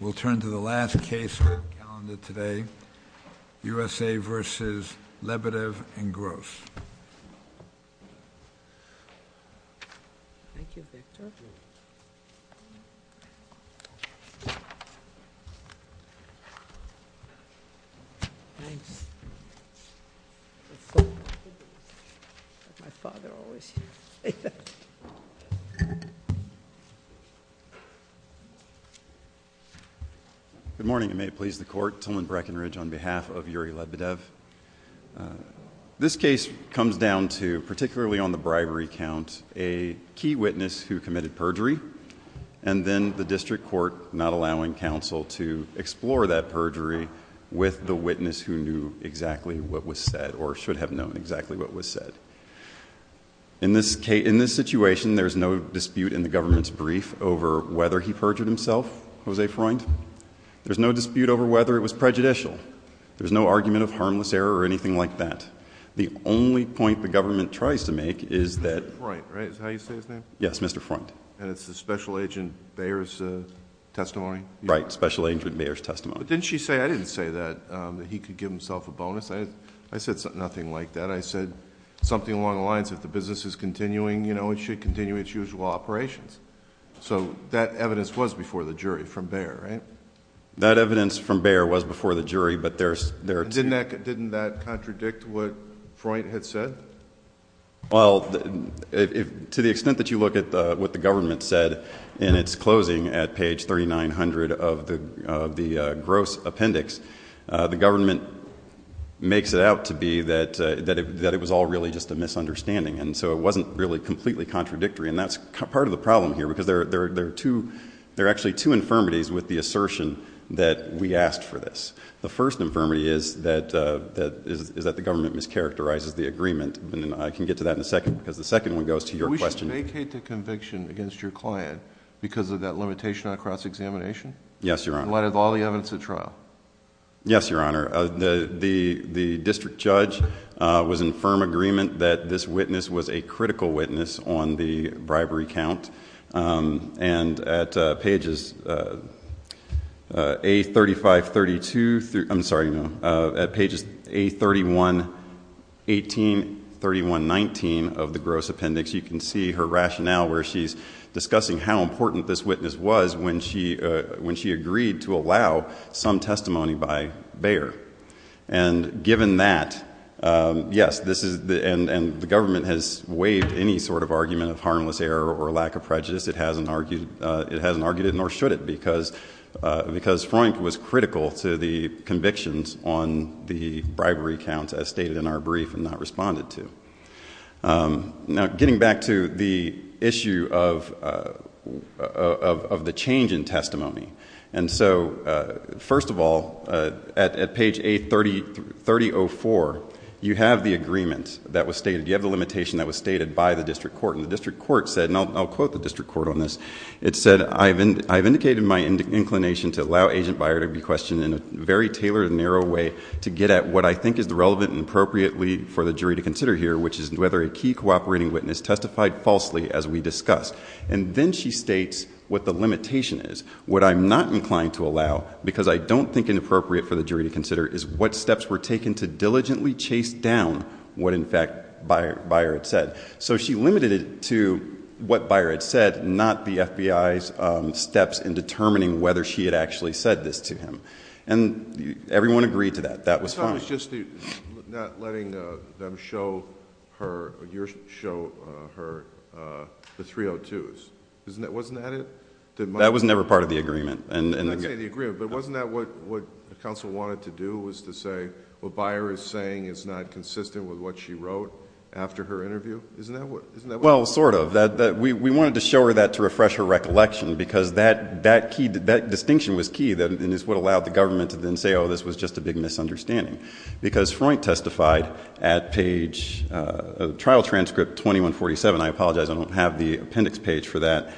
We'll turn to the last case on the calendar today, USA v. Lebedev and Gross. Good morning, and may it please the court. Tillman Breckinridge on behalf of Yuri Lebedev. This case comes down to, particularly on the bribery count, a key witness who committed perjury, and then the district court not allowing counsel to explore that perjury with the witness who knew exactly what was said, or should have known exactly what was said. In this situation, there's no dispute in the government's brief over whether he perjured himself, Jose Freund. There's no dispute over whether it was prejudicial. There's no argument of harmless error or anything like that. The only point the government tries to make is that… Mr. Freund, right? Is that how you say his name? Yes, Mr. Freund. And it's the special agent Bayer's testimony? Right, special agent Bayer's testimony. But didn't she say, I didn't say that, that he could give himself a bonus? I said nothing like that. I said something along the lines of the business is continuing, you know, it should continue its usual operations. So that evidence was before the jury from Bayer, right? That evidence from Bayer was before the jury, but there's... Didn't that contradict what Freund had said? Well, to the extent that you look at what the government said in its closing at page 3900 of the gross appendix, the government makes it out to be that it was all really just a misunderstanding. And so it wasn't really completely contradictory. And that's part of the problem here because there are actually two infirmities with the assertion that we asked for this. The first infirmity is that the government mischaracterizes the agreement. And I can get to that in a second because the second one goes to your question. We should vacate the conviction against your client because of that limitation on cross-examination? Yes, Your Honor. And what is all the evidence at trial? Yes, Your Honor. The district judge was in firm agreement that this witness was a critical witness on the bribery count. And at pages A3532... I'm sorry, no. At pages A3118, 3119 of the gross appendix, you can see her rationale where she's discussing how important this witness was when she agreed to allow some testimony by Bayer. And given that, yes, and the government has waived any sort of argument of harmless error or lack of prejudice. It hasn't argued it nor should it because Freund was critical to the convictions on the bribery count as stated in our brief and not responded to. Now, getting back to the issue of the change in testimony. And so, first of all, at page A3004, you have the agreement that was stated. You have the limitation that was stated by the district court. And the district court said, and I'll quote the district court on this. It said, I've indicated my inclination to allow Agent Bayer to be questioned in a very tailored and narrow way to get at what I think is relevant and appropriate for the jury to consider here, which is whether a key cooperating witness testified falsely as we discussed. And then she states what the limitation is. What I'm not inclined to allow, because I don't think it's appropriate for the jury to consider, is what steps were taken to diligently chase down what, in fact, Bayer had said. So she limited it to what Bayer had said, not the FBI's steps in determining whether she had actually said this to him. And everyone agreed to that. That was fine. I thought it was just not letting them show her the 302s. Wasn't that it? That was never part of the agreement. I'm not saying the agreement, but wasn't that what counsel wanted to do, was to say what Bayer is saying is not consistent with what she wrote after her interview? Isn't that what it was? Well, sort of. We wanted to show her that to refresh her recollection, because that distinction was key and is what allowed the government to then say, oh, this was just a big misunderstanding. Because Freund testified at page, trial transcript 2147. I apologize, I don't have the appendix page for that.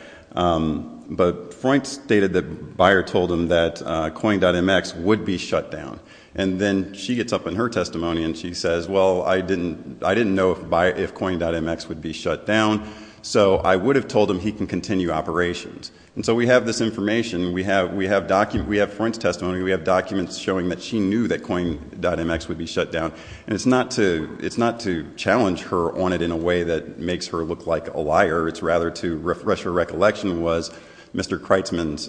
But Freund stated that Bayer told him that COIN.MX would be shut down. And then she gets up in her testimony and she says, well, I didn't know if COIN.MX would be shut down, so I would have told him he can continue operations. And so we have this information, we have Freund's testimony, we have documents showing that she knew that COIN.MX would be shut down. And it's not to challenge her on it in a way that makes her look like a liar. It's rather to refresh her recollection, was Mr. Kreitzman's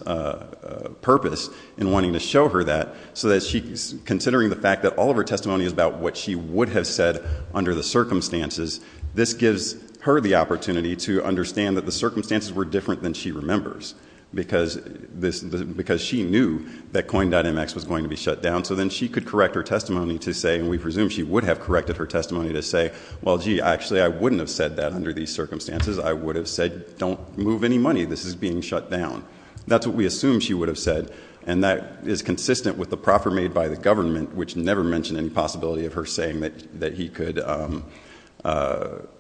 purpose in wanting to show her that, so that considering the fact that all of her testimony is about what she would have said under the circumstances, this gives her the opportunity to understand that the circumstances were different than she remembers. Because she knew that COIN.MX was going to be shut down, so then she could correct her testimony to say, and we presume she would have corrected her testimony to say, well, gee, actually I wouldn't have said that under these circumstances. I would have said, don't move any money, this is being shut down. That's what we assume she would have said. And that is consistent with the proffer made by the government, which never mentioned any possibility of her saying that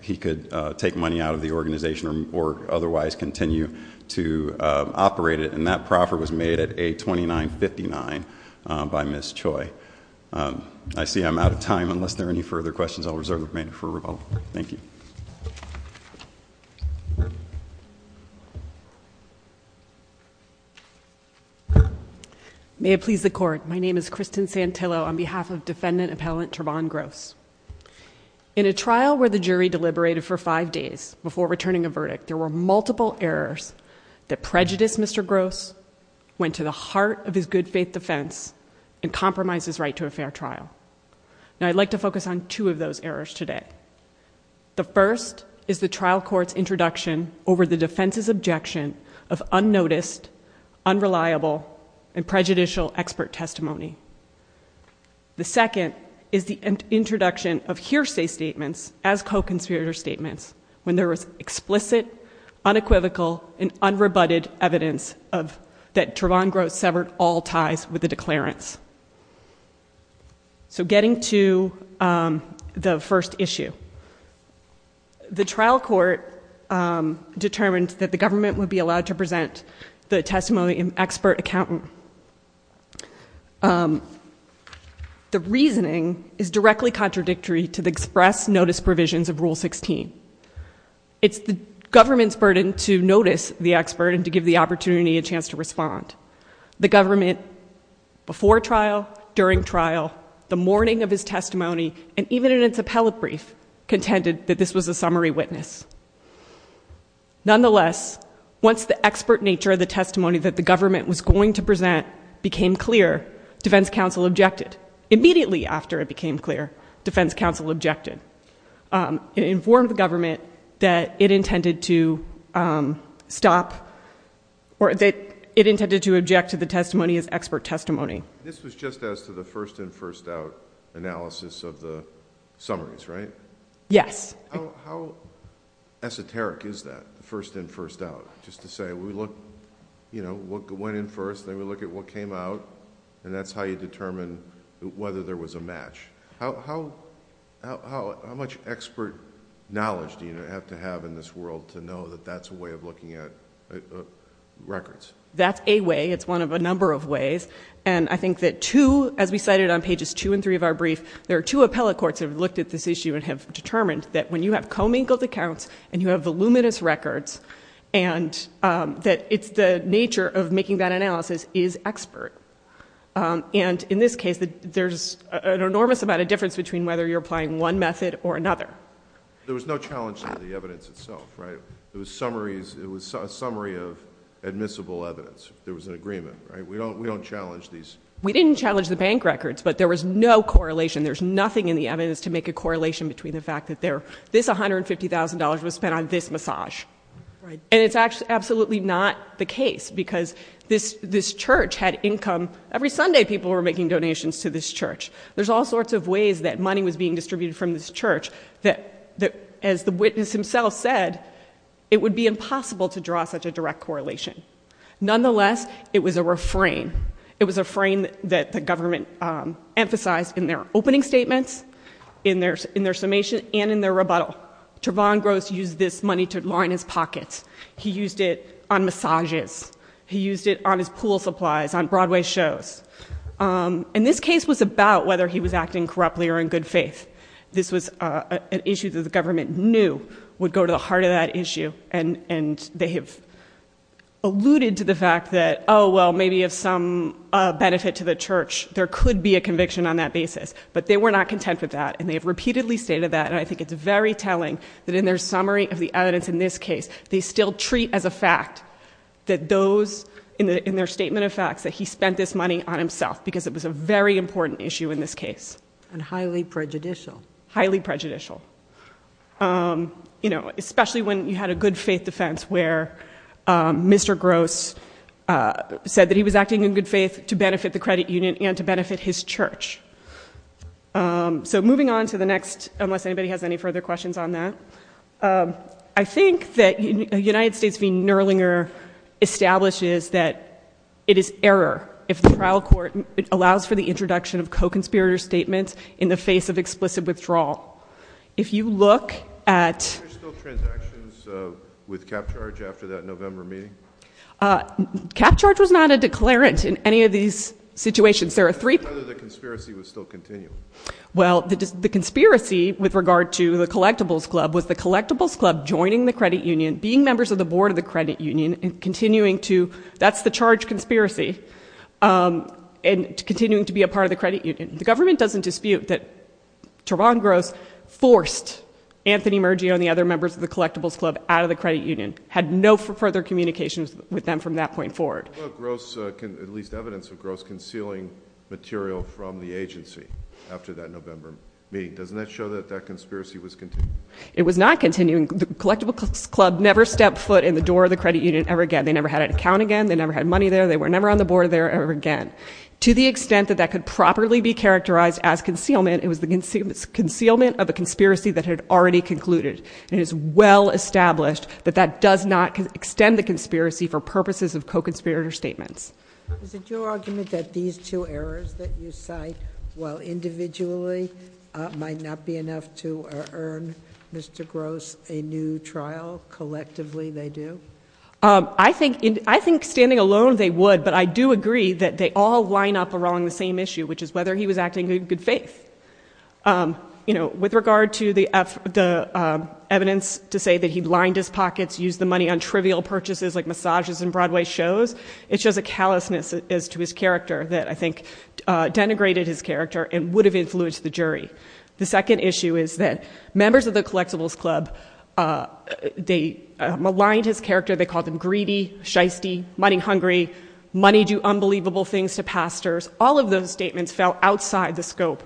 he could take money out of the organization or otherwise continue to operate it. And that proffer was made at 829.59 by Ms. Choi. I see I'm out of time. Unless there are any further questions, I'll reserve the remainder for Rupaul. Thank you. May it please the Court. My name is Kristen Santillo on behalf of Defendant Appellant Trevon Gross. In a trial where the jury deliberated for five days before returning a verdict, there were multiple errors that prejudiced Mr. Gross, went to the heart of his good faith defense, and compromised his right to a fair trial. Now I'd like to focus on two of those errors today. The first is the trial court's introduction over the defense's objection of unnoticed, unreliable, and prejudicial expert testimony. The second is the introduction of hearsay statements as co-conspirator statements when there was explicit, unequivocal, and unrebutted evidence that Trevon Gross severed all ties with the declarants. So getting to the first issue. The trial court determined that the government would be allowed to present the testimony of an expert accountant. The reasoning is directly contradictory to the express notice provisions of Rule 16. It's the government's burden to notice the expert and to give the opportunity and chance to respond. The government, before trial, during trial, the morning of his testimony, and even in its appellate brief, contended that this was a summary witness. Nonetheless, once the expert nature of the testimony that the government was going to present became clear, defense counsel objected. Immediately after it became clear, defense counsel objected. It informed the government that it intended to stop, or that it intended to object to the testimony as expert testimony. This was just as to the first-in-first-out analysis of the summaries, right? Yes. How esoteric is that, the first-in-first-out? Just to say, we look... what went in first, then we look at what came out, and that's how you determine whether there was a match. How much expert knowledge do you have to have in this world to know that that's a way of looking at records? That's a way. It's one of a number of ways. I think that two, as we cited on pages two and three of our brief, there are two appellate courts that have looked at this issue and have determined that when you have commingled accounts, and you have voluminous records, and that it's the nature of making that analysis is expert. In this case, there's an enormous amount of difference between whether you're applying one method or another. There was no challenge to the evidence itself, right? It was a summary of admissible evidence. There was an agreement, right? We don't challenge these. We didn't challenge the bank records, but there was no correlation. There's nothing in the evidence to make a correlation between the fact that this $150,000 was spent on this massage. And it's absolutely not the case, because this church had income... Every Sunday, people were making donations to this church. There's all sorts of ways that money was being distributed from this church that, as the witness himself said, it would be impossible to draw such a direct correlation. Nonetheless, it was a refrain. It was a refrain that the government emphasized in their opening statements, in their summation, and in their rebuttal. Trevon Gross used this money to line his pockets. He used it on massages. He used it on his pool supplies, on Broadway shows. And this case was about whether he was acting corruptly or in good faith. This was an issue that the government knew would go to the heart of that issue. And they have alluded to the fact that, oh, well, maybe of some benefit to the church, there could be a conviction on that basis. But they were not content with that, and they have repeatedly stated that. And I think it's very telling that in their summary of the evidence in this case, they still treat as a fact that those... In their statement of facts, that he spent this money on himself, because it was a very important issue in this case. And highly prejudicial. Highly prejudicial. Especially when you had a good faith defense, where Mr. Gross said that he was acting in good faith to benefit the credit union and to benefit his church. So moving on to the next, unless anybody has any further questions on that. I think that United States v. Nerlinger establishes that it is error, if the trial court allows for the introduction of co-conspirator statements in the face of explicit withdrawal. If you look at... Were there still transactions with CapCharge after that November meeting? CapCharge was not a declarant in any of these situations. There are three... And whether the conspiracy would still continue. Well, the conspiracy, with regard to the collectibles club, was the collectibles club joining the credit union, being members of the board of the credit union, and continuing to... and continuing to be a part of the credit union. The government doesn't dispute that Teron Gross forced Anthony Mergio and the other members of the collectibles club out of the credit union. Had no further communications with them from that point forward. At least evidence of Gross concealing material from the agency after that November meeting. Doesn't that show that that conspiracy was continuing? It was not continuing. The collectibles club never stepped foot in the door of the credit union ever again. They never had an account again. They never had money there. They were never on the board there ever again. To the extent that that could properly be characterized as concealment, it was the concealment of a conspiracy that had already concluded. And it is well established that that does not extend the conspiracy for purposes of co-conspirator statements. Is it your argument that these two errors that you cite, while individually might not be enough to earn Mr. Gross a new trial, collectively they do? I think standing alone they would, but I do agree that they all line up around the same issue, which is whether he was acting in good faith. With regard to the evidence to say that he lined his pockets, used the money on trivial purchases like massages and Broadway shows, it's just a callousness as to his character that I think denigrated his character and would have influenced the jury. The second issue is that members of the collectibles club, they maligned his character, they called him greedy, shysty, money-hungry, money-do-unbelievable-things-to-pastors. All of those statements fell outside the scope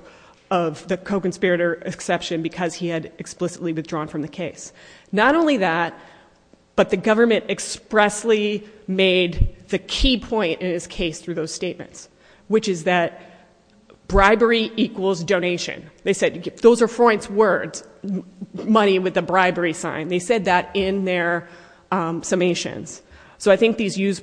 of the co-conspirator exception because he had explicitly withdrawn from the case. Not only that, but the government expressly made the key point in his case through those statements, which is that bribery equals donation. They said, those are Freud's words, money with a bribery sign. They said that in their summations. So I think those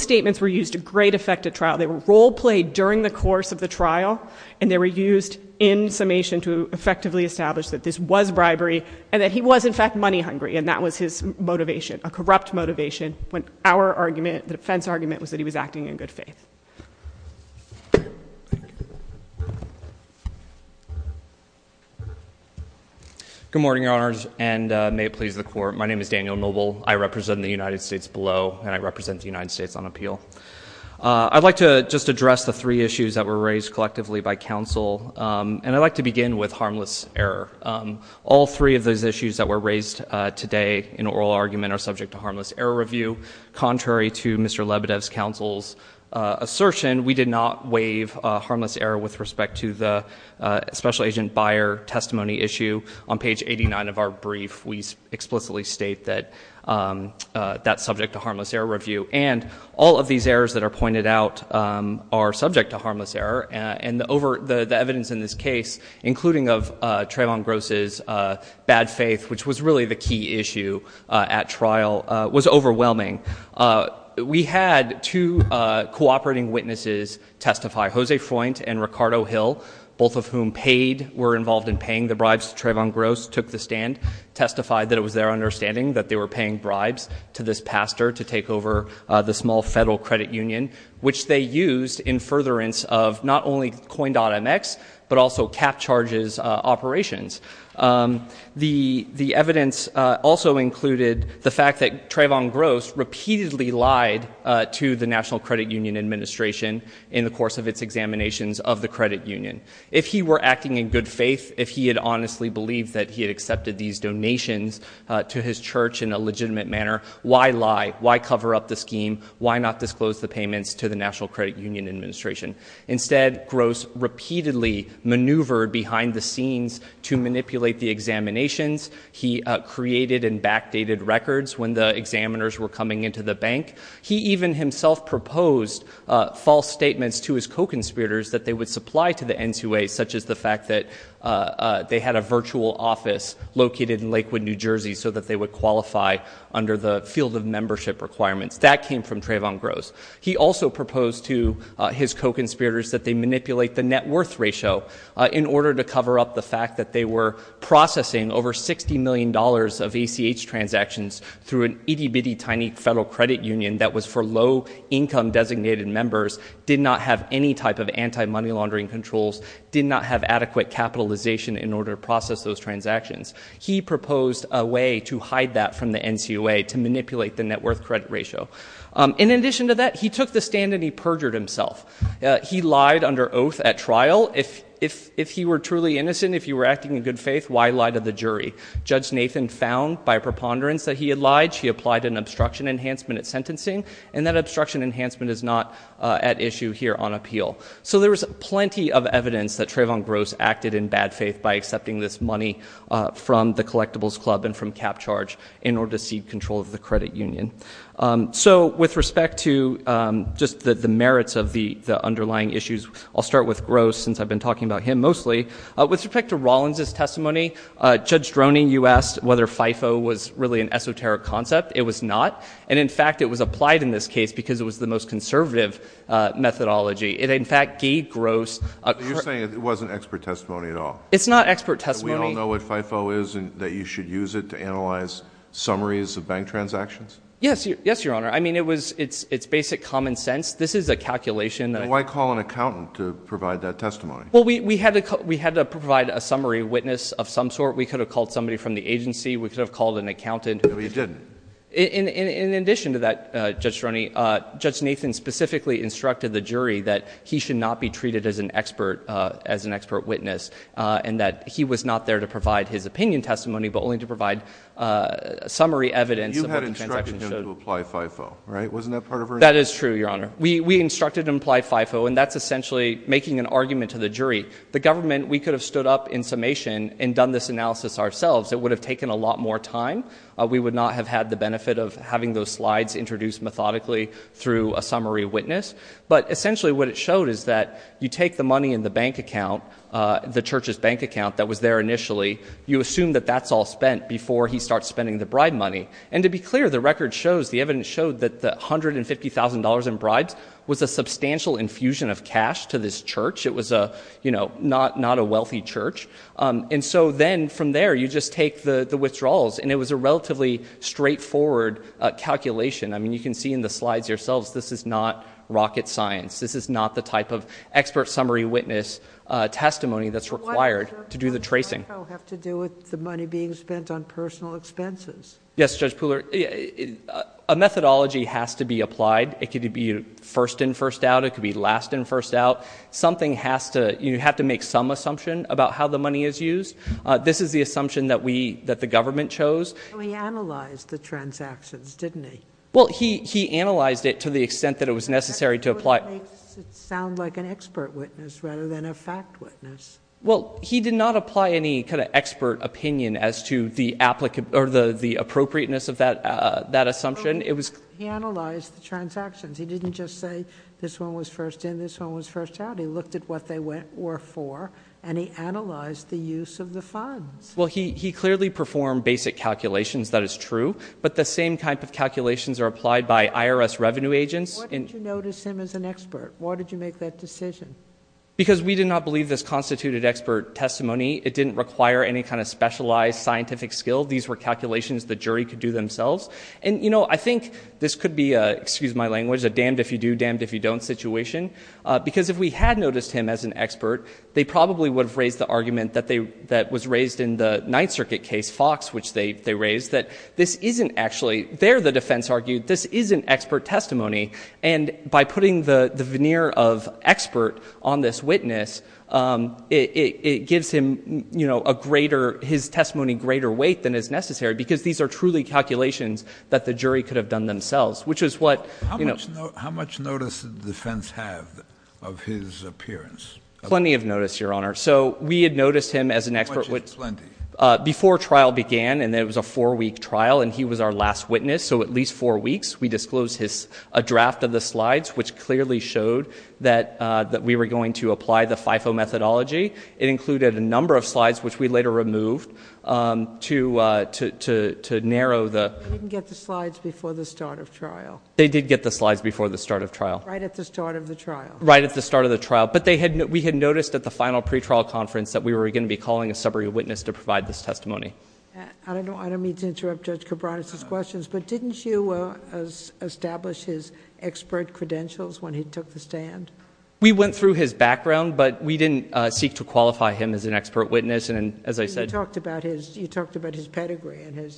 statements were used to great effect at trial. They were role-played during the course of the trial and they were used in summation to effectively establish that this was bribery and that he was in fact money-hungry and that was his motivation, a corrupt motivation when our argument, the defense argument, was that he was acting in good faith. Good morning, Your Honors, and may it please the Court. My name is Daniel Noble. I represent the United States below and I represent the United States on appeal. I'd like to just address the three issues that were raised collectively by counsel and I'd like to begin with harmless error. All three of those issues that were raised today in oral argument are subject to harmless error review. Contrary to Mr. Lebedev's counsel's assertion, we did not waive harmless error with respect to the special agent buyer testimony issue. On page 89 of our brief, we explicitly state that that's subject to harmless error review and all of these errors that are pointed out are subject to harmless error and the evidence in this case, including of Trayvon Gross's bad faith, which was really the key issue at trial, was overwhelming. We had two cooperating witnesses testify, Jose Freund and Ricardo Hill, both of whom paid, were involved in paying the bribes. Trayvon Gross took the stand, testified that it was their understanding that they were paying bribes to this pastor to take over the small federal credit union, which they used in furtherance of not only Coin.mx, but also cap charges operations. The evidence also included the fact that Trayvon Gross repeatedly lied to the National Credit Union Administration in the course of its examinations of the credit union. If he were acting in good faith, if he had honestly believed that he had accepted these donations to his church in a legitimate manner, why lie? Why cover up the scheme? Why not disclose the payments to the National Credit Union Administration? Instead, Gross repeatedly maneuvered behind the scenes to manipulate the examinations. He created and backdated records when the examiners were coming into the bank. He even himself proposed false statements to his co-conspirators that they would supply to the NQA, such as the fact that they had a virtual office located in Lakewood, New Jersey, so that they would qualify under the field of membership requirements. That came from Trayvon Gross. He also proposed to his co-conspirators that they manipulate the net worth ratio in order to cover up the fact that they were processing over $60 million of ACH transactions through an itty-bitty tiny federal credit union that was for low-income designated members, did not have any type of anti-money laundering controls, did not have adequate capitalization in order to process those transactions. He proposed a way to hide that from the NCOA to manipulate the net worth credit ratio. In addition to that, he took the stand and he perjured himself. He lied under oath at trial. If he were truly innocent, if he were acting in good faith, why lie to the jury? Judge Nathan found by a preponderance that he had lied. She applied an obstruction enhancement at sentencing, and that obstruction enhancement is not at issue here on appeal. So there was plenty of evidence that Trayvon Gross acted in bad faith by accepting this money from the Collectibles Club and from CapCharge in order to cede control of the credit union. So with respect to just the merits of the underlying issues, I'll start with Gross since I've been talking about him mostly. With respect to Rollins' testimony, Judge Droney, you asked whether FIFO was really an esoteric concept. It was not. And, in fact, it was applied in this case because it was the most conservative methodology. It, in fact, gave Gross a – You're saying it wasn't expert testimony at all? It's not expert testimony. We all know what FIFO is and that you should use it to analyze summaries of bank transactions? Yes, Your Honor. I mean, it's basic common sense. This is a calculation. Why call an accountant to provide that testimony? Well, we had to provide a summary witness of some sort. We could have called somebody from the agency. We could have called an accountant. No, you didn't. In addition to that, Judge Droney, Judge Nathan specifically instructed the jury that he should not be treated as an expert witness and that he was not there to provide his opinion testimony, but only to provide summary evidence of bank transactions. You instructed him to apply FIFO, right? Wasn't that part of her instruction? That is true, Your Honor. We instructed him to apply FIFO, and that's essentially making an argument to the jury. The government, we could have stood up in summation and done this analysis ourselves. It would have taken a lot more time. We would not have had the benefit of having those slides introduced methodically through a summary witness. But, essentially, what it showed is that you take the money in the bank account, the church's bank account that was there initially, you assume that that's all spent before he starts spending the bribe money. And to be clear, the record shows, the evidence showed, that the $150,000 in bribes was a substantial infusion of cash to this church. It was, you know, not a wealthy church. And so then, from there, you just take the withdrawals, and it was a relatively straightforward calculation. I mean, you can see in the slides yourselves, this is not rocket science. This is not the type of expert summary witness testimony that's required to do the tracing. Does that somehow have to do with the money being spent on personal expenses? Yes, Judge Pooler. A methodology has to be applied. It could be first in, first out. It could be last in, first out. Something has to... you have to make some assumption about how the money is used. This is the assumption that the government chose. He analyzed the transactions, didn't he? Well, he analyzed it to the extent that it was necessary to apply... That's what makes it sound like an expert witness rather than a fact witness. Well, he did not apply any kind of expert opinion as to the appropriateness of that assumption. He analyzed the transactions. He didn't just say this one was first in, this one was first out. He looked at what they were for, and he analyzed the use of the funds. Well, he clearly performed basic calculations. That is true. But the same type of calculations are applied by IRS revenue agents. Why did you notice him as an expert? Why did you make that decision? Because we did not believe this constituted expert testimony. It didn't require any kind of specialized scientific skill. These were calculations the jury could do themselves. And, you know, I think this could be a... excuse my language... a damned if you do, damned if you don't situation. Because if we had noticed him as an expert, they probably would have raised the argument that they... that was raised in the Ninth Circuit case, Fox, which they raised, that this isn't actually... There, the defense argued, this isn't expert testimony. And, by putting the veneer of expert on this witness, it gives him, you know, a greater... his testimony greater weight than is necessary. Because these are truly calculations that the jury could have done themselves, which is what... How much notice did the defense have of his appearance? Plenty of notice, Your Honor. So, we had noticed him as an expert... How much is plenty? Before trial began, and it was a four-week trial, and he was our last witness. So, at least four weeks, we disclosed his... a draft of the slides, which clearly showed that... that we were going to apply the FIFO methodology. It included a number of slides, which we later removed, to... to narrow the... They didn't get the slides before the start of trial. They did get the slides before the start of trial. Right at the start of the trial. Right at the start of the trial. But, they had... we had noticed at the final pretrial conference that we were going to be calling a summary witness to provide this testimony. I don't know... I don't mean to interrupt Judge Cabranes' questions, but didn't you establish his expert credentials when he took the stand? We went through his background, but we didn't seek to qualify him as an expert witness. And, as I said... You talked about his... you talked about his pedigree and his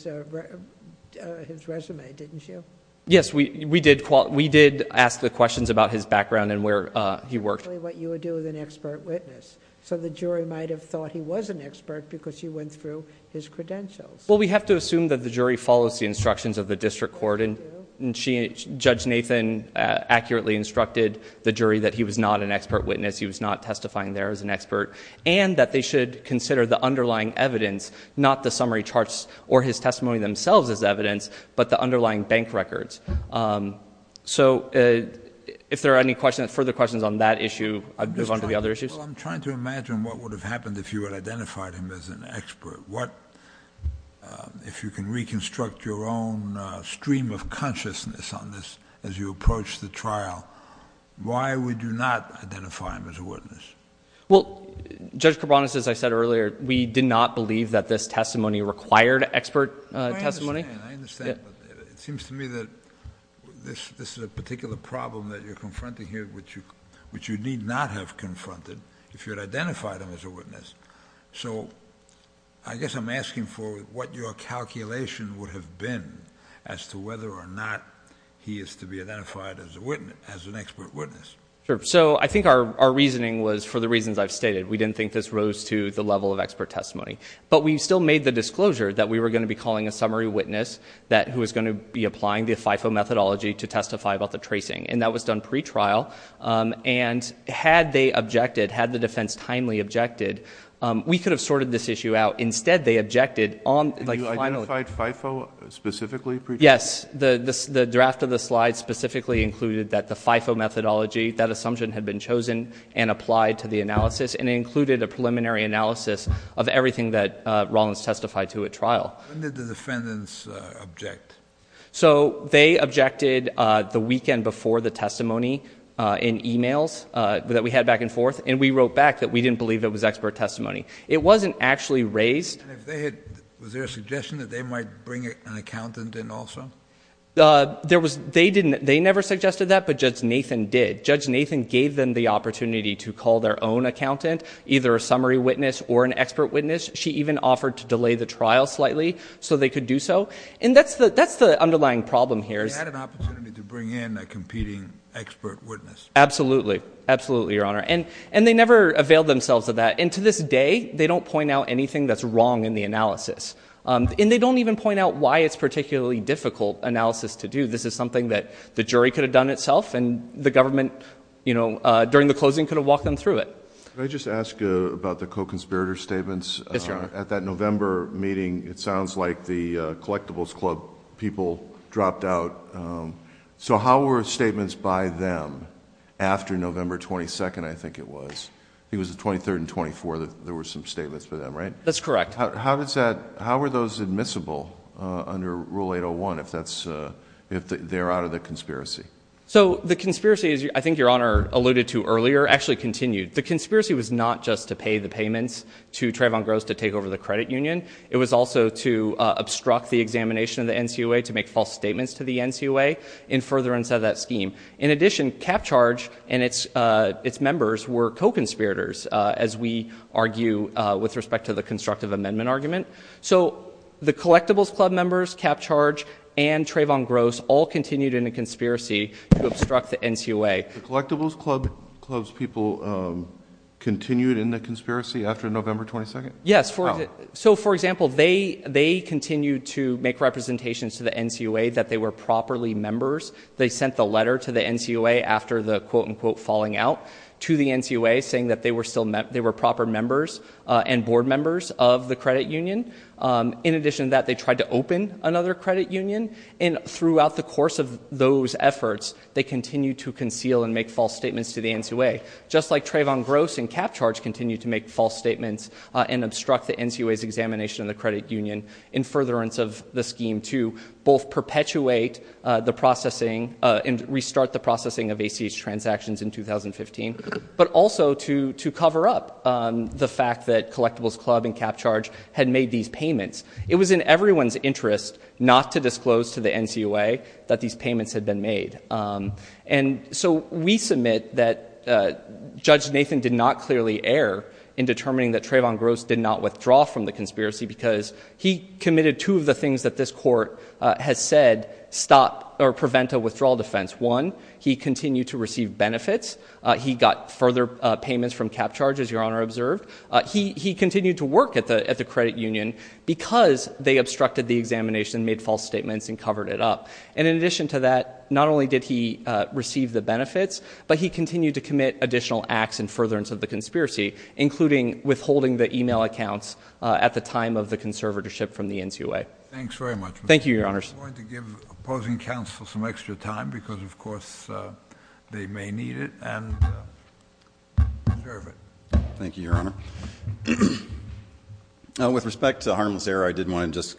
resume, didn't you? Yes, we did... we did ask the questions about his background and where he worked. That's exactly what you would do with an expert witness. So, the jury might have thought he was an expert, because you went through his credentials. Well, we have to assume that the jury follows the instructions of the district court. And, Judge Nathan accurately instructed the jury that he was not an expert witness. He was not testifying there as an expert. And, that they should consider the underlying evidence, not the summary charts or his testimony themselves as evidence, but the underlying bank records. So, if there are any questions... further questions on that issue, I'll move on to the other issues. Well, I'm trying to imagine what would have happened if you had identified him as an expert. What... if you can reconstruct your own stream of consciousness on this as you approach the trial, why would you not identify him as a witness? Well, Judge Cabranes, as I said earlier, we did not believe that this testimony required expert testimony. I understand. It seems to me that this is a particular problem that you're confronting here, which you need not have confronted, if you had identified him as a witness. So, I guess I'm asking for what your calculation would have been as to whether or not he is to be identified as an expert witness. Sure. So, I think our reasoning was for the reasons I've stated. We didn't think this rose to the level of expert testimony. But, we still made the disclosure that we were going to be calling a summary witness who was going to be applying the FIFO methodology to testify about the tracing. And, that was done pre-trial. And, had they objected, had the defense timely objected, we could have sorted this issue out. Instead, they objected on... You identified FIFO specifically pre-trial? Yes. The draft of the slide specifically included that the FIFO methodology, that assumption had been chosen and applied to the analysis. And, it included a preliminary analysis of everything that Rollins testified to at trial. When did the defendants object? So, they objected the weekend before the testimony in e-mails that we had back and forth. And, we wrote back that we didn't believe it was expert testimony. It wasn't actually raised... And, if they had... Was there a suggestion that they might bring an accountant in also? There was... They never suggested that, but Judge Nathan did. Judge Nathan gave them the opportunity to call their own accountant, either a summary witness or an expert witness. She even offered to delay the trial slightly, so they could do so. And, that's the underlying problem here. They had an opportunity to bring in a competing expert witness. Absolutely. Absolutely, Your Honor. And, they never availed themselves of that. And, to this day, they don't point out anything that's wrong in the analysis. And, they don't even point out why it's a particularly difficult analysis to do. This is something that the jury could have done itself. And, the government, you know, during the closing, could have walked them through it. Can I just ask about the co-conspirator statements? Yes, Your Honor. At that November meeting, it sounds like the Collectibles Club people dropped out. So, how were statements by them after November 22nd, I think it was? I think it was the 23rd and 24th that there were some statements by them, right? That's correct. How were those admissible under Rule 801 if they're out of the conspiracy? So, the conspiracy, I think Your Honor alluded to earlier, actually continued. The conspiracy was not just to pay the payments to Trayvon Gross to take over the credit union. It was also to obstruct the examination of the NCOA to make false statements to the NCOA in furtherance of that scheme. In addition, CapCharge and its members were co-conspirators, as we argue with respect to the constructive amendment argument. So, the Collectibles Club members, CapCharge and Trayvon Gross, all continued in a conspiracy to obstruct the NCOA. The Collectibles Club's people continued in the conspiracy after November 22nd? Yes. How? So, for example, they continued to make representations to the NCOA that they were properly members. They sent the letter to the NCOA after the quote-unquote falling out to the NCOA, saying that they were proper members and board members of the credit union. In addition to that, they tried to open another credit union. And throughout the course of those efforts, they continued to conceal and make false statements to the NCOA, just like Trayvon Gross and CapCharge continued to make false statements and obstruct the NCOA's examination of the credit union in furtherance of the scheme to both perpetuate the processing and restart the processing of ACH transactions in 2015, but also to cover up the fact that Collectibles Club and CapCharge had made these payments. It was in everyone's interest not to disclose to the NCOA that these payments had been made. And so we submit that Judge Nathan did not clearly err in determining that Trayvon Gross did not withdraw from the conspiracy because he committed two of the things that this court has said stop or prevent a withdrawal defense. One, he continued to receive benefits. He got further payments from CapCharge, as Your Honor observed. He continued to work at the credit union because they obstructed the examination, made false statements, and covered it up. And in addition to that, not only did he receive the benefits, but he continued to commit additional acts in furtherance of the conspiracy, including withholding the e-mail accounts at the time of the conservatorship from the NCOA. Thanks very much. Thank you, Your Honors. I'm going to give opposing counsel some extra time because, of course, they may need it and deserve it. Thank you, Your Honor. With respect to the harmless error, I did want to just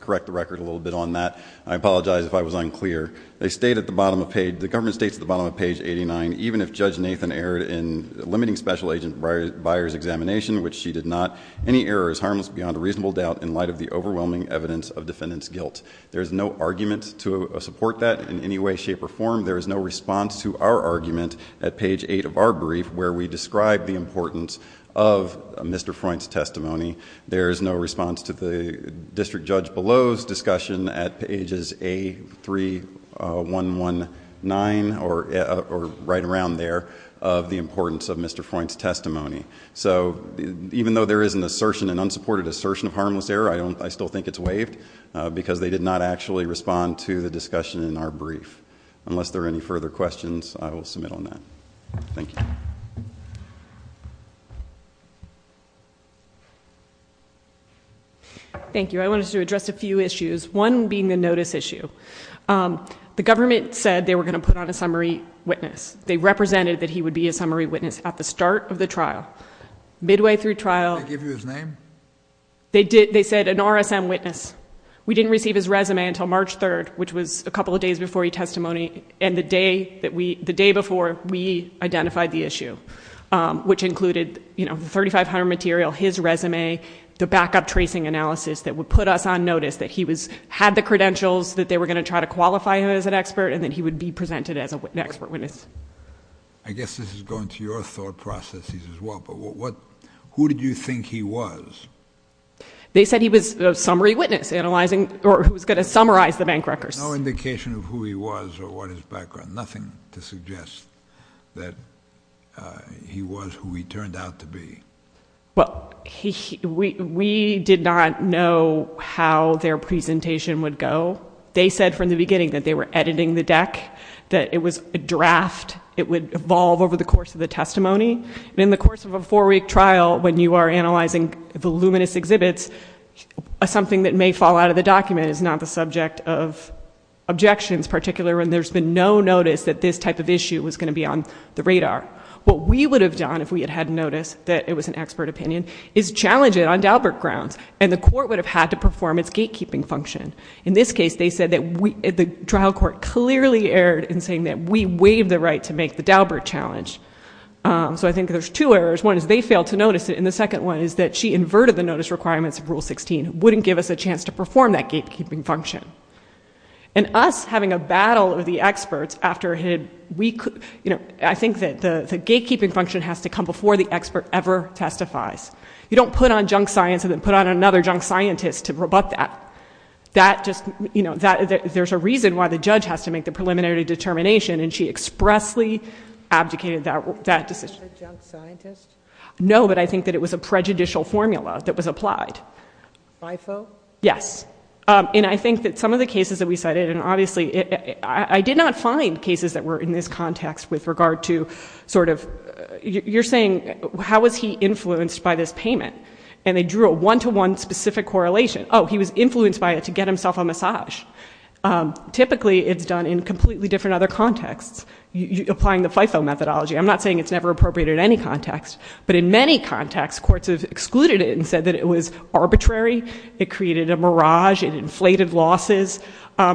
correct the record a little bit on that. I apologize if I was unclear. They state at the bottom of page, the government states at the bottom of page 89, even if Judge Nathan erred in limiting Special Agent Beyer's examination, which she did not, any error is harmless beyond a reasonable doubt in light of the overwhelming evidence of defendant's guilt. There is no argument to support that in any way, shape, or form. There is no response to our argument at page 8 of our brief where we describe the importance of Mr. Freund's testimony. There is no response to the district judge below's discussion at pages A3119 or right around there of the importance of Mr. Freund's testimony. So even though there is an assertion, an unsupported assertion of harmless error, I still think it's waived because they did not actually respond to the discussion in our brief. Unless there are any further questions, I will submit on that. Thank you. Thank you. I wanted to address a few issues, one being the notice issue. The government said they were going to put on a summary witness. They represented that he would be a summary witness at the start of the trial. Midway through trial— Did they give you his name? They did. They said an RSM witness. We didn't receive his resume until March 3rd, which was a couple of days before he testified, and the day before, we identified the issue, which included the 3,500 material, his resume, the backup tracing analysis that would put us on notice that he had the credentials, that they were going to try to qualify him as an expert, and that he would be presented as an expert witness. I guess this is going to your thought processes as well, but who did you think he was? They said he was a summary witness analyzing—or who was going to summarize the bank records. No indication of who he was or what his background—nothing to suggest that he was who he turned out to be. Well, we did not know how their presentation would go. They said from the beginning that they were editing the deck, that it was a draft. It would evolve over the course of the testimony. In the course of a four-week trial, when you are analyzing the luminous exhibits, something that may fall out of the document is not the subject of objections, particularly when there's been no notice that this type of issue was going to be on the radar. What we would have done if we had had notice that it was an expert opinion is challenge it on Daubert grounds, and the court would have had to perform its gatekeeping function. In this case, they said that the trial court clearly erred in saying that we waived the right to make the Daubert challenge. So I think there's two errors. One is they failed to notice it, and the second one is that she inverted the notice requirements of Rule 16. It wouldn't give us a chance to perform that gatekeeping function. And us having a battle with the experts after a week— I think that the gatekeeping function has to come before the expert ever testifies. You don't put on junk science and then put on another junk scientist to rebut that. There's a reason why the judge has to make the preliminary determination, and she expressly abdicated that decision. Was it a junk scientist? No, but I think that it was a prejudicial formula that was applied. FIFO? Yes. And I think that some of the cases that we cited—and obviously, I did not find cases that were in this context with regard to sort of— you're saying how was he influenced by this payment, and they drew a one-to-one specific correlation. Oh, he was influenced by it to get himself a massage. Typically, it's done in completely different other contexts, applying the FIFO methodology. I'm not saying it's never appropriate in any context, but in many contexts, courts have excluded it and said that it was arbitrary. It created a mirage. It inflated losses.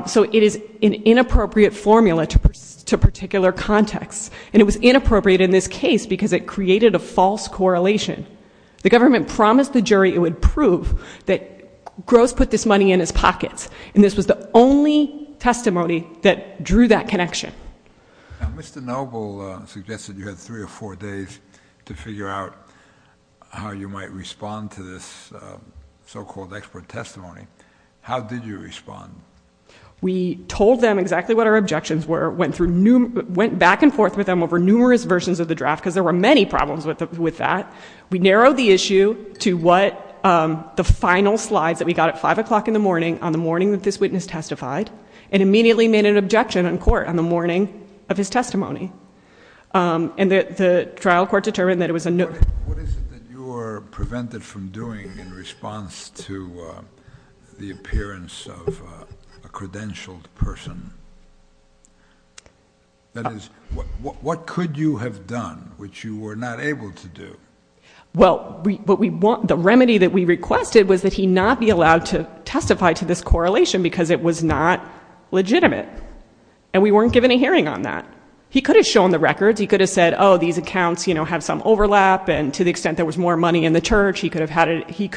So it is an inappropriate formula to particular contexts, and it was inappropriate in this case because it created a false correlation. The government promised the jury it would prove that Gross put this money in his pockets, and this was the only testimony that drew that connection. Mr. Noble suggested you had three or four days to figure out how you might respond to this so-called expert testimony. How did you respond? We told them exactly what our objections were, went back and forth with them over numerous versions of the draft because there were many problems with that. We narrowed the issue to the final slides that we got at 5 o'clock in the morning on the morning that this witness testified and immediately made an objection in court on the morning of his testimony. And the trial court determined that it was a no. What is it that you were prevented from doing in response to the appearance of a credentialed person? That is, what could you have done which you were not able to do? Well, the remedy that we requested was that he not be allowed to testify to this correlation because it was not legitimate, and we weren't given a hearing on that. He could have shown the records. He could have said, oh, these accounts have some overlap, and to the extent there was more money in the church, he could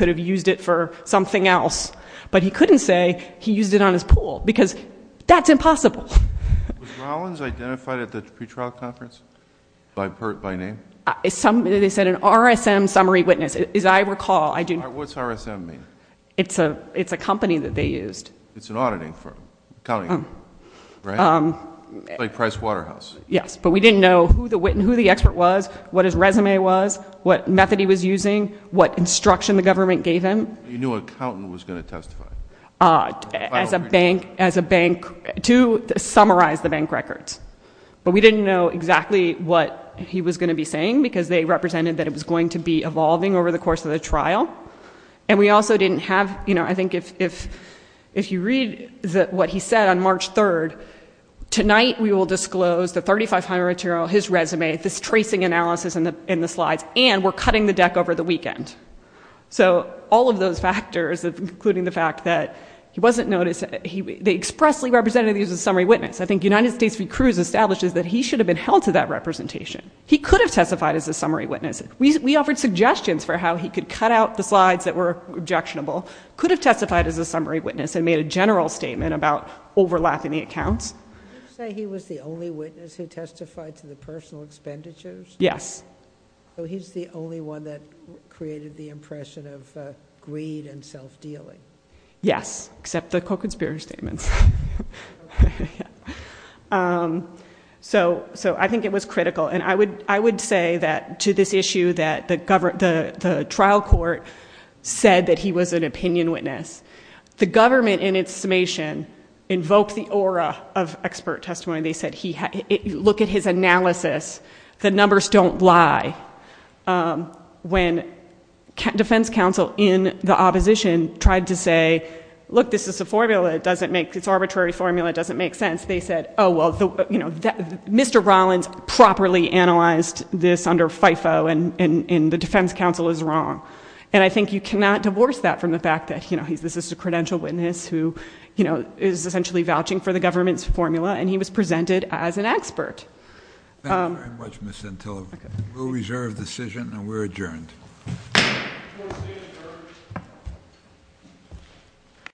have used it for something else. But he couldn't say he used it on his pool because that's impossible. Was Rollins identified at the pretrial conference by name? They said an RSM summary witness. As I recall, I do not know. What's RSM mean? It's a company that they used. It's an auditing firm, accounting firm, right? Like Price Waterhouse. Yes, but we didn't know who the expert was, what his resume was, what method he was using, what instruction the government gave him. You knew an accountant was going to testify. As a bank, to summarize the bank records. But we didn't know exactly what he was going to be saying because they represented that it was going to be evolving over the course of the trial. And we also didn't have, you know, I think if you read what he said on March 3rd, tonight we will disclose the 3,500 material, his resume, this tracing analysis in the slides, and we're cutting the deck over the weekend. So all of those factors, including the fact that he wasn't noticed, they expressly represented he was a summary witness. I think United States v. Cruz establishes that he should have been held to that representation. He could have testified as a summary witness. We offered suggestions for how he could cut out the slides that were objectionable, could have testified as a summary witness, and made a general statement about overlapping the accounts. Did you say he was the only witness who testified to the personal expenditures? Yes. So he's the only one that created the impression of greed and self-dealing. Yes, except the Coconspirator statements. So I think it was critical. And I would say that to this issue that the trial court said that he was an opinion witness. The government, in its summation, invoked the aura of expert testimony. They said look at his analysis. The numbers don't lie. When defense counsel in the opposition tried to say, look, this is a formula, it doesn't make sense, it's an arbitrary formula, it doesn't make sense, they said, oh, well, Mr. Rollins properly analyzed this under FIFO, and the defense counsel is wrong. And I think you cannot divorce that from the fact that this is a credential witness who is essentially vouching for the government's formula, and he was presented as an expert. Thank you very much, Ms. Santillo. We'll reserve the decision, and we're adjourned.